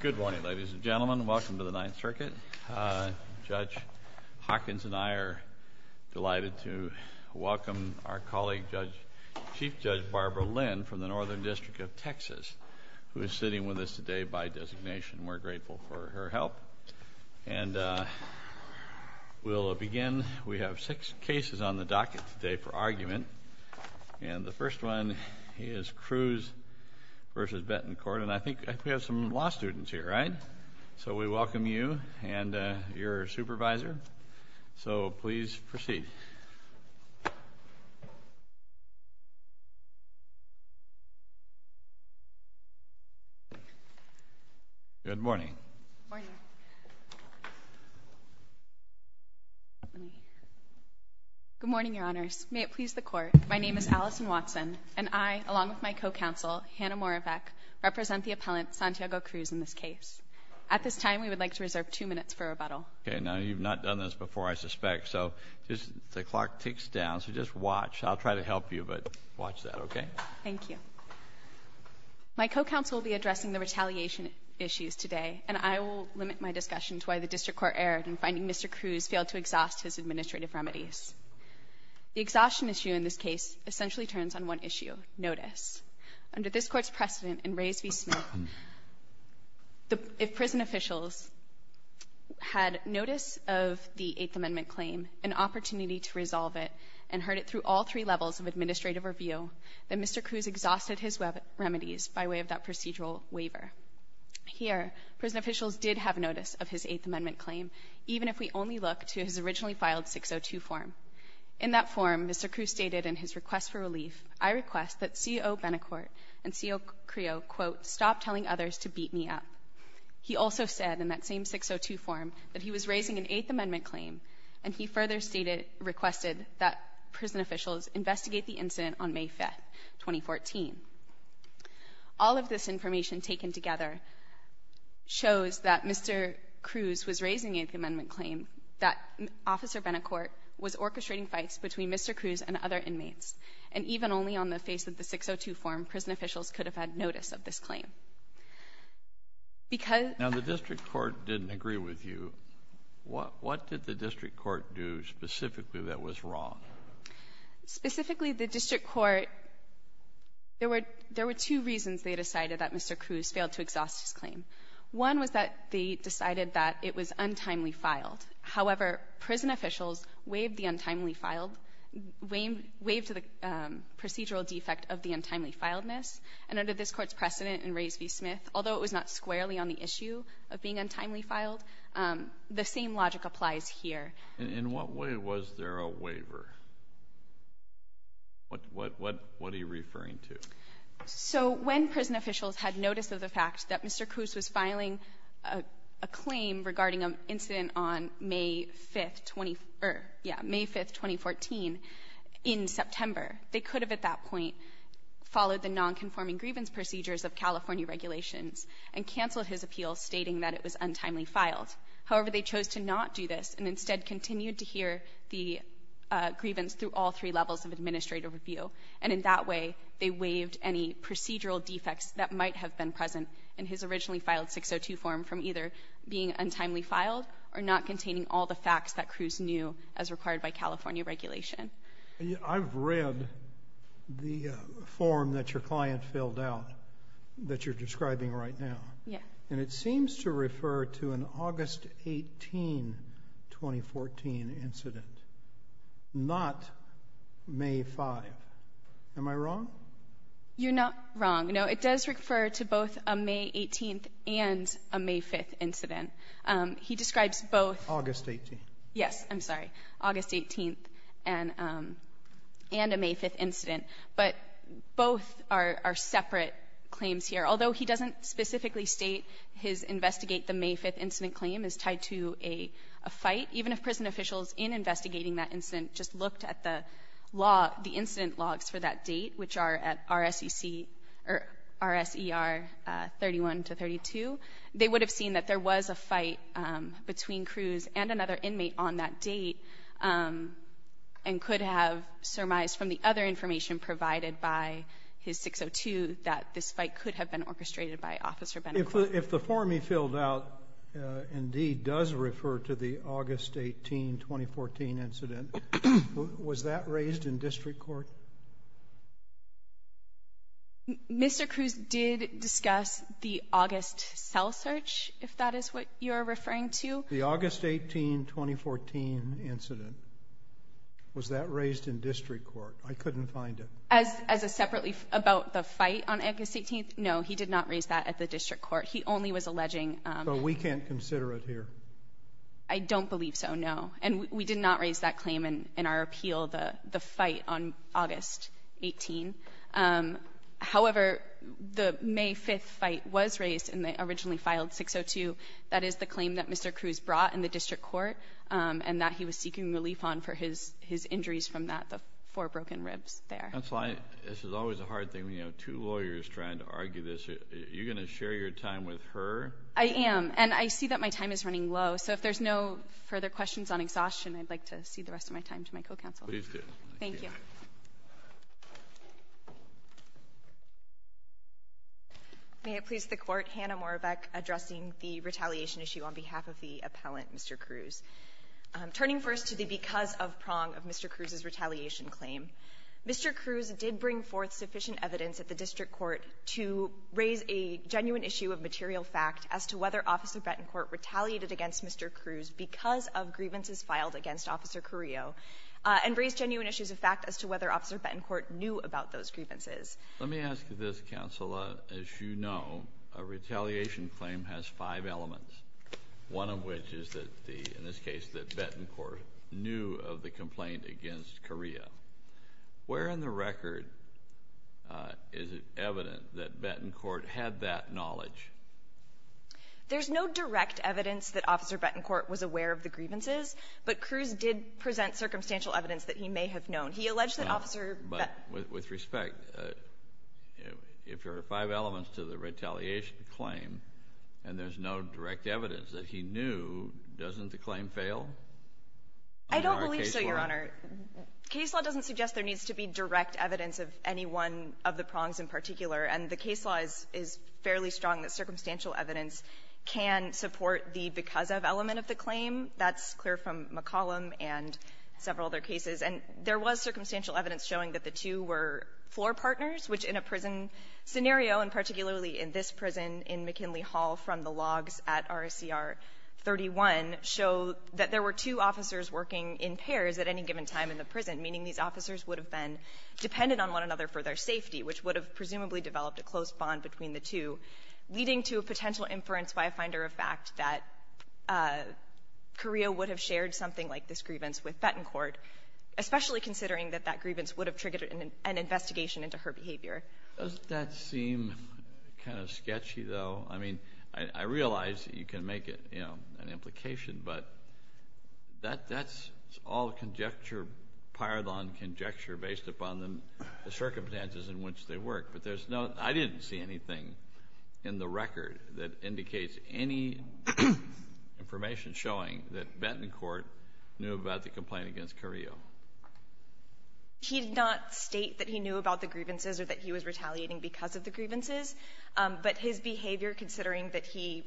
Good morning, ladies and gentlemen. Welcome to the Ninth Circuit. Judge Hawkins and I are delighted to welcome our colleague, Chief Judge Barbara Lynn from the Northern District of Texas, who is sitting with us today by designation. We're grateful for her help. And we'll begin. We have six cases on the docket today for argument. And the first one is Cruz v. Betancourt. And I think we have some law students here, right? So we welcome you and your supervisor. So please proceed. Good morning. Good morning, Your Honors. May it please the Court, my name is Allison Watson, and I'm Allison Watson. I, along with my co-counsel, Hannah Moravec, represent the appellant, Santiago Cruz, in this case. At this time, we would like to reserve two minutes for rebuttal. Okay. Now, you've not done this before, I suspect, so the clock ticks down. So just watch. I'll try to help you, but watch that, okay? Thank you. My co-counsel will be addressing the retaliation issues today, and I will limit my discussion to why the District Court erred in finding Mr. Cruz failed to exhaust his Under this Court's precedent in Reyes v. Smith, if prison officials had notice of the Eighth Amendment claim, an opportunity to resolve it, and heard it through all three levels of administrative review, then Mr. Cruz exhausted his remedies by way of that procedural waiver. Here, prison officials did have notice of his Eighth Amendment claim, even if we only look to his originally filed 602 form. In that form, Mr. Cruz stated in his request for relief, I request that C.O. Benacourt and C.O. Creo, quote, stop telling others to beat me up. He also said, in that same 602 form, that he was raising an Eighth Amendment claim, and he further stated, requested, that prison officials investigate the incident on May 5th, 2014. All of this information taken together shows that Mr. Cruz was raising an Eighth Amendment claim, that Officer Benacourt was orchestrating fights between Mr. Cruz and other inmates. And even only on the face of the 602 form, prison officials could have had notice of this claim. Because the district court didn't agree with you, what did the district court do specifically that was wrong? Specifically, the district court, there were two reasons they decided that Mr. Cruz failed to exhaust his claim. One was that they decided that it was untimely filed. However, prison officials waived the untimely filed, waived the procedural defect of the untimely filedness, and under this court's precedent in Rays v. Smith, although it was not squarely on the issue of being untimely filed, the same logic applies here. In what way was there a waiver? What are you referring to? So when prison officials had notice of the fact that Mr. Cruz was filing a claim regarding an incident on May 5, 2014, in September, they could have at that point followed the non-conforming grievance procedures of California regulations and canceled his appeal stating that it was untimely filed. However, they chose to not do this and instead continued to hear the grievance through all three levels of administrative review. And in that way, they waived any procedural defects that might have been present in his originally filed 602 form from either being untimely filed or not containing all the facts that Cruz knew as required by California regulation. I've read the form that your client filled out that you're describing right now, and it seems to refer to an August 18, 2014 incident, not May 5. Am I wrong? You're not wrong. No, it does refer to both a May 18 and a May 5 incident. He describes both. August 18th. Yes. I'm sorry. August 18th and a May 5 incident. But both are separate claims here. Although he doesn't specifically state his investigate the May 5 incident claim is tied to a fight, even if prison officials in investigating that incident just looked at the law, the incident logs for that date, which are the date of the RSEC or RSER 31 to 32, they would have seen that there was a fight between Cruz and another inmate on that date and could have surmised from the other information provided by his 602 that this fight could have been orchestrated by Officer Benacort. If the form he filled out indeed does refer to the August 18, 2014 incident, was that raised in district court? Mr. Cruz did discuss the August cell search, if that is what you're referring to. The August 18, 2014 incident, was that raised in district court? I couldn't find it. As a separately about the fight on August 18th? No, he did not raise that at the district court. He only was alleging... We can't consider it here. I don't believe so, no. And we did not raise that claim in our appeal, the fight on August 18. However, the May 5 fight was raised and they originally filed 602. That is the claim that Mr. Cruz brought in the district court and that he was seeking relief on for his injuries from that, the four broken ribs there. That's why this is always a hard thing when you have two lawyers trying to argue this. You're going to share your time with her? I am. And I see that my time is running low, so if there's no further questions on exhaustion, I'd like to cede the rest of my time to my co-counsel. Please do. Thank you. May it please the Court, Hannah Morabec addressing the retaliation issue on behalf of the appellant, Mr. Cruz. Turning first to the because of prong of Mr. Cruz's retaliation claim, Mr. Cruz did bring forth sufficient evidence at the district court to raise a genuine issue of material fact as to whether Officer Betancourt retaliated against Mr. Cruz because of grievances filed against Officer Carrillo, and raised genuine issues of fact as to whether Officer Betancourt knew about those grievances. Let me ask you this, Counselor. As you know, a retaliation claim has five elements, one of which is, in this case, that Betancourt knew of the complaint against Carrillo. Where in the record is it evident that Betancourt had that knowledge? There's no direct evidence that Officer Betancourt was aware of the grievances, but Cruz did present circumstantial evidence that he may have known. He alleged that Officer Betancourt No, but with respect, if there are five elements to the retaliation claim, and there's no direct evidence that he knew, doesn't the claim fail? I don't believe so, Your Honor. Case law doesn't suggest there needs to be direct evidence of any one of the prongs in particular, and the case law is fairly strong that circumstantial evidence can support the because of element of the claim. That's clear from McCollum and several other cases. And there was circumstantial evidence showing that the two were floor partners, which in a prison scenario, and particularly in this prison in McKinley Hall from the logs at RCR 31, show that there were two officers working in pairs at any given time in the prison, meaning these officers would have been dependent on one another for their safety, which would have presumably developed a close bond between the two, leading to a potential inference by a finder of fact that Carrillo would have shared something like this grievance with Betancourt, especially considering that that grievance would have triggered an investigation into her behavior. Doesn't that seem kind of sketchy, though? I mean, I realize that you can make it, you know, an implication, but that's all conjecture, pardon conjecture, based upon the circumstances in which they worked. But there's no, I didn't see anything in the record that indicates any information showing that Betancourt knew about the complaint against Carrillo. He did not state that he knew about the grievances or that he was retaliating because of the grievances, but his behavior, considering that he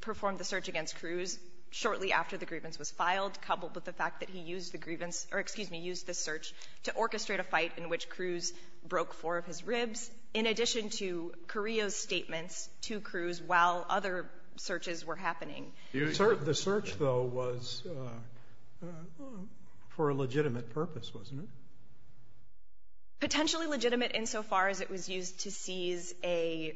performed the search against Cruz shortly after the grievance was filed, coupled with the fact that he used the search to orchestrate a fight in which Cruz broke four of his ribs, in addition to Carrillo's statements to Cruz while other searches were happening. The search, though, was for a legitimate purpose, wasn't it? Potentially legitimate insofar as it was used to seize a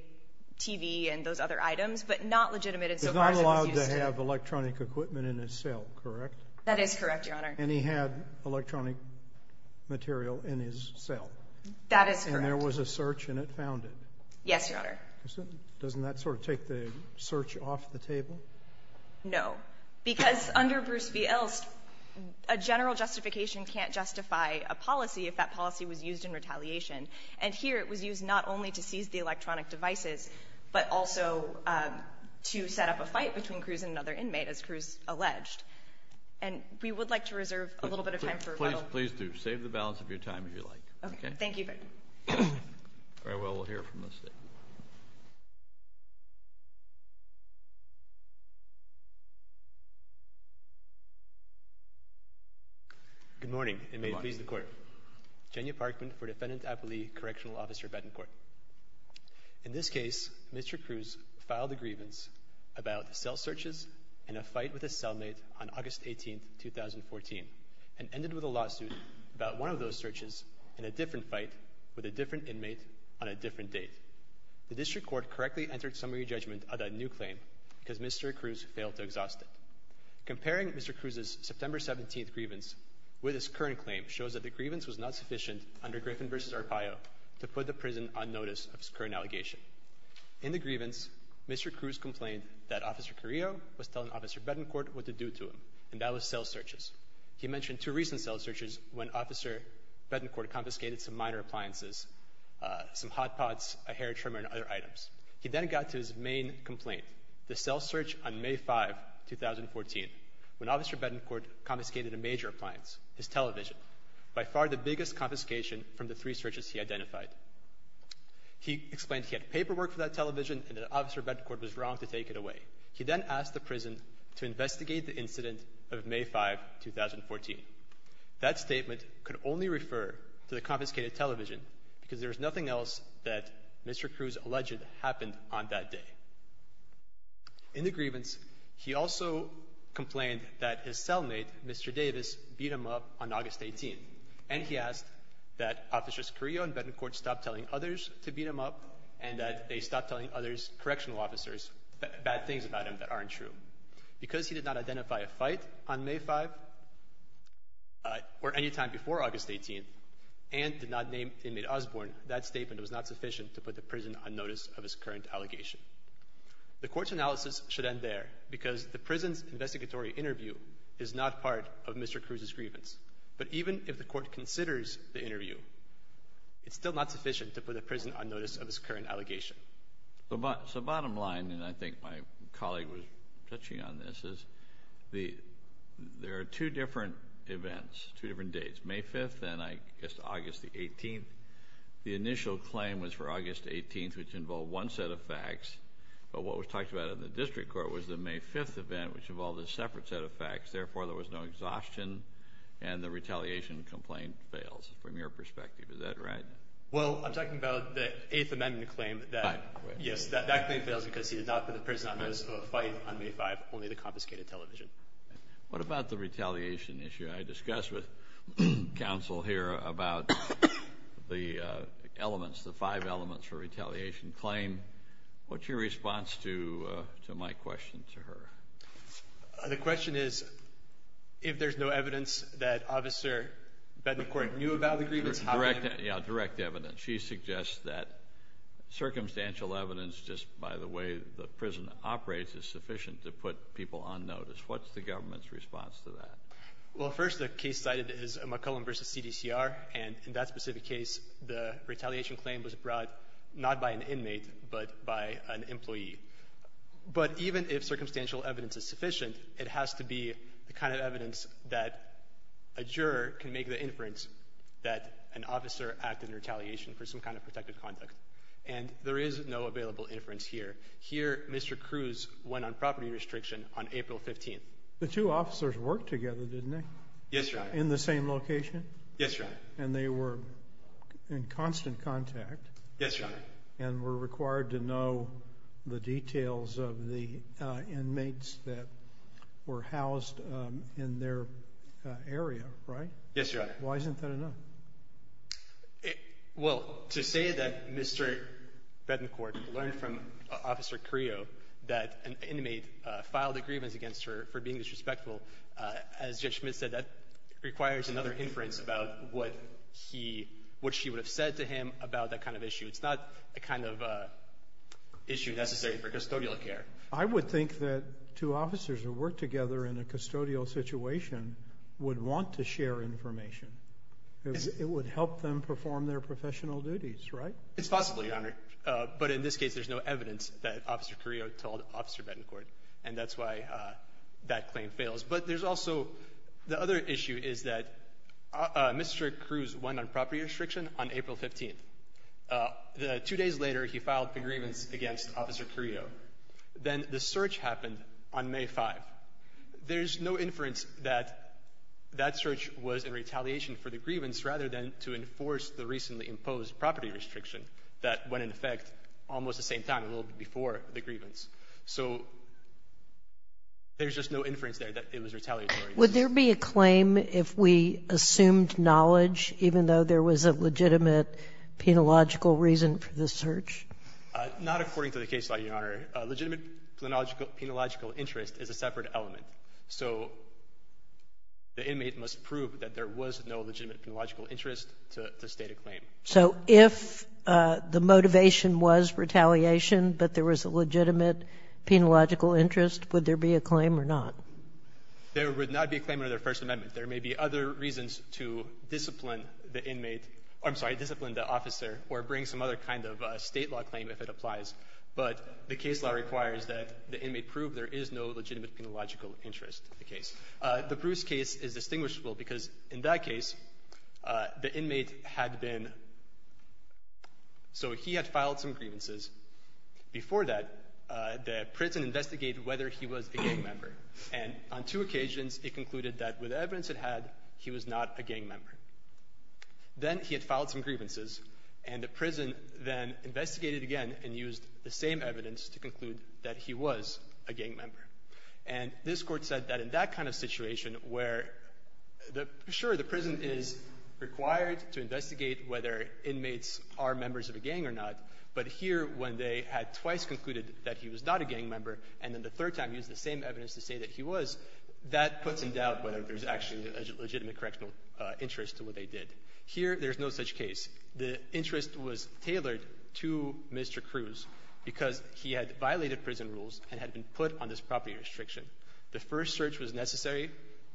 TV and those other items, but not legitimate insofar as it was used to- He's not allowed to have electronic equipment in his cell, correct? That is correct, Your Honor. And he had electronic material in his cell? That is correct. And there was a search and it found it? Yes, Your Honor. Doesn't that sort of take the search off the table? No, because under Bruce v. Elst, a general justification can't justify a policy if that policy was used in retaliation. And here it was used not only to seize the electronic devices, but also to set up a fight between Cruz and another inmate, as Cruz alleged. And we would like to reserve a little bit of time for- Please do. Save the balance of your time if you like. Okay. Thank you. All right, well, we'll hear from the State. Good morning, and may it please the Court. Good morning. Jenia Parkman for Defendant Appley Correctional Officer Betancourt. In this case, Mr. Cruz filed a grievance about cell searches in a fight with a cellmate on August 18, 2014, and ended with a lawsuit about one of those searches in a different fight with a different inmate on a different date. The District Court correctly entered summary judgment of that new claim because Mr. Cruz failed to exhaust it. Comparing Mr. Cruz's September 17th grievance with his current claim shows that the grievance was not sufficient under Griffin v. Arpaio to put the prison on notice of his current allegation. In the grievance, Mr. Cruz complained that Officer Carrillo was telling Officer Betancourt what to do to him, and that was cell searches. He mentioned two recent cell searches when Officer Betancourt confiscated some minor appliances, some hot pots, a hair trimmer, and other items. He then got to his main complaint. The cell search on May 5, 2014, when Officer Betancourt confiscated a major appliance, his television, by far the biggest confiscation from the three searches he identified. He explained he had paperwork for that television and that Officer Betancourt was wrong to take it away. He then asked the prison to investigate the incident of May 5, 2014. That statement could only refer to the confiscated television because there is nothing else that Mr. Cruz alleged happened on that day. In the grievance, he also complained that his cellmate, Mr. Davis, beat him up on August 18, and he asked that Officers Carrillo and Betancourt stop telling others to beat him up and that they stop telling others, correctional officers, bad things about him that aren't true. Because he did not identify a fight on May 5 or any time before August 18 and did not name inmate Osborne, that statement was not sufficient to put the prison on notice of his current allegation. The court's analysis should end there because the prison's investigatory interview is not part of Mr. Cruz's grievance. But even if the court considers the interview, it's still not sufficient to put the prison on notice of his current allegation. So bottom line, and I think my colleague was touching on this, is the there are two different events, two different dates, May 5th and August the 18th. The initial claim was for August 18th, which involved one set of facts, but what was talked about in the district court was the May 5th event, which involved a separate set of facts. Therefore, there was no exhaustion and the retaliation complaint fails from your perspective. Is that right? Well, I'm talking about the Eighth Amendment claim that, yes, that claim fails because he did not put the prison on notice of a fight on May 5, only the confiscated television. What about the retaliation issue? I discussed with counsel here about the elements, the five elements for retaliation claim. What's your response to my question to her? The question is, if there's no evidence that Officer Bennett Cork knew about the grievance. Direct, yeah, direct evidence. She suggests that circumstantial evidence, just by the way the prison operates, is sufficient to put people on notice. What's the government's response to that? Well, first, the case cited is McClellan versus CDCR. And in that specific case, the retaliation claim was brought not by an inmate, but by an employee. But even if circumstantial evidence is sufficient, it has to be the kind of evidence that a juror can make the inference that an officer acted in retaliation for some kind of protective conduct. And there is no available inference here. Here, Mr. Cruz went on property restriction on April 15th. The two officers worked together, didn't they? Yes, Your Honor. In the same location? Yes, Your Honor. And they were in constant contact? Yes, Your Honor. And were required to know the details of the inmates that were housed in their area, right? Yes, Your Honor. Why isn't that enough? Well, to say that Mr. Bennett Cork learned from Officer Crio that an inmate filed grievance against her for being disrespectful, as Judge Schmidt said, that requires another inference about what she would have said to him about that kind of issue. It's not the kind of issue necessary for custodial care. I would think that two officers who worked together in a custodial situation would want to share information. It would help them perform their professional duties, right? It's possible, Your Honor. But in this case, there's no evidence that Officer Crio told Officer Bennett Cork. And that's why that claim fails. But there's also the other issue is that Mr. Cruz went on property restriction on April 15th. Two days later, he filed for grievance against Officer Crio. Then the search happened on May 5th. There's no inference that that search was in retaliation for the grievance rather than to enforce the recently imposed property restriction that went in effect almost the same time, a little bit before the grievance. So there's just no inference there that it was retaliatory. Would there be a claim if we assumed knowledge, even though there was a legitimate penological reason for the search? Not according to the case law, Your Honor. Legitimate penological interest is a separate element. So the inmate must prove that there was no legitimate penological interest to state a claim. So if the motivation was retaliation, but there was a legitimate penological interest, would there be a claim or not? There would not be a claim under the First Amendment. There may be other reasons to discipline the inmate. I'm sorry, discipline the officer or bring some other kind of state law claim if it applies. But the case law requires that the inmate prove there is no legitimate penological interest in the case. The Bruce case is distinguishable because in that case, the inmate had been, so he had filed some grievances. Before that, the prison investigated whether he was a gang member. And on two occasions, it concluded that with the evidence it had, he was not a gang member. Then he had filed some grievances, and the prison then investigated again and used the same evidence to conclude that he was a gang member. And this Court said that in that kind of situation where, sure, the prison is required to investigate whether inmates are members of a gang or not. But here, when they had twice concluded that he was not a gang member and then the third time used the same evidence to say that he was, that puts in doubt whether there's actually a legitimate correctional interest to what they did. Here, there's no such case. The interest was tailored to Mr. Cruz because he had violated prison rules and had been put on this property restriction. The first search was necessary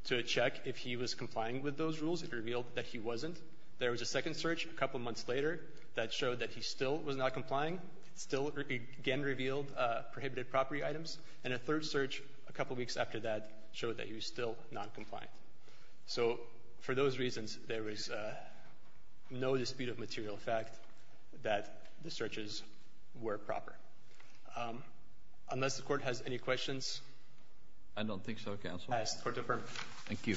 to check if he was complying with those rules. It revealed that he wasn't. There was a second search a couple months later that showed that he still was not complying. It still again revealed prohibited property items. And a third search a couple weeks after that showed that he was still noncompliant. So for those reasons, there was no dispute of material fact that the searches were proper. Um, unless the Court has any questions? I don't think so, Counsel. I ask the Court to affirm. Thank you.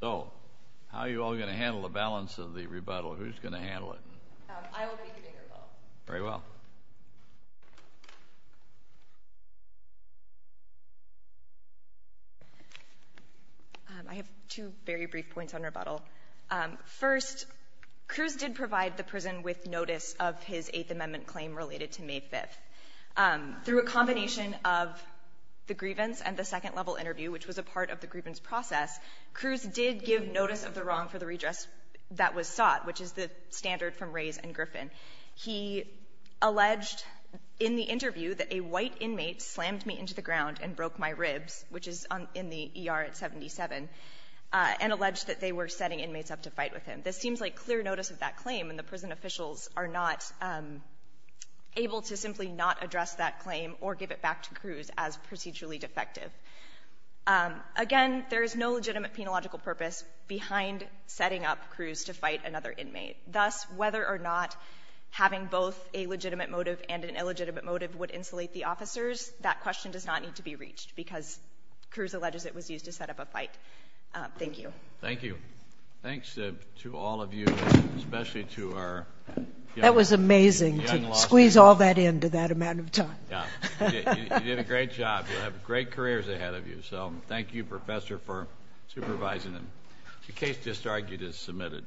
So, how are you all going to handle the balance of the rebuttal? Who's going to handle it? I will be giving a rebuttal. Very well. I have two very brief points on rebuttal. First, Cruz did provide the prison with notice of his Eighth Amendment claim related to May 5th. Through a combination of the grievance and the second level interview, which was a part of the grievance process, Cruz did give notice of the wrong for the redress that was sought, which is the standard from Rays and Griffin. He alleged in the interview that a white inmate slammed me into the ground and broke my ribs, which is in the ER at 77, and alleged that they were setting inmates up to fight with him. This seems like clear notice of that claim, and the prison officials are not able to simply not address that claim or give it back to Cruz as procedurally defective. Again, there is no legitimate penological purpose behind setting up Cruz to fight another inmate. Thus, whether or not having both a legitimate motive and an illegitimate motive would insulate the officers, that question does not need to be reached because Cruz alleges it was used to set up a fight. Thank you. Thank you. Thanks to all of you, especially to our That was amazing to squeeze all that into that amount of time. Yeah, you did a great job. You'll have great careers ahead of you. So thank you, Professor, for supervising them. The case just argued is submitted.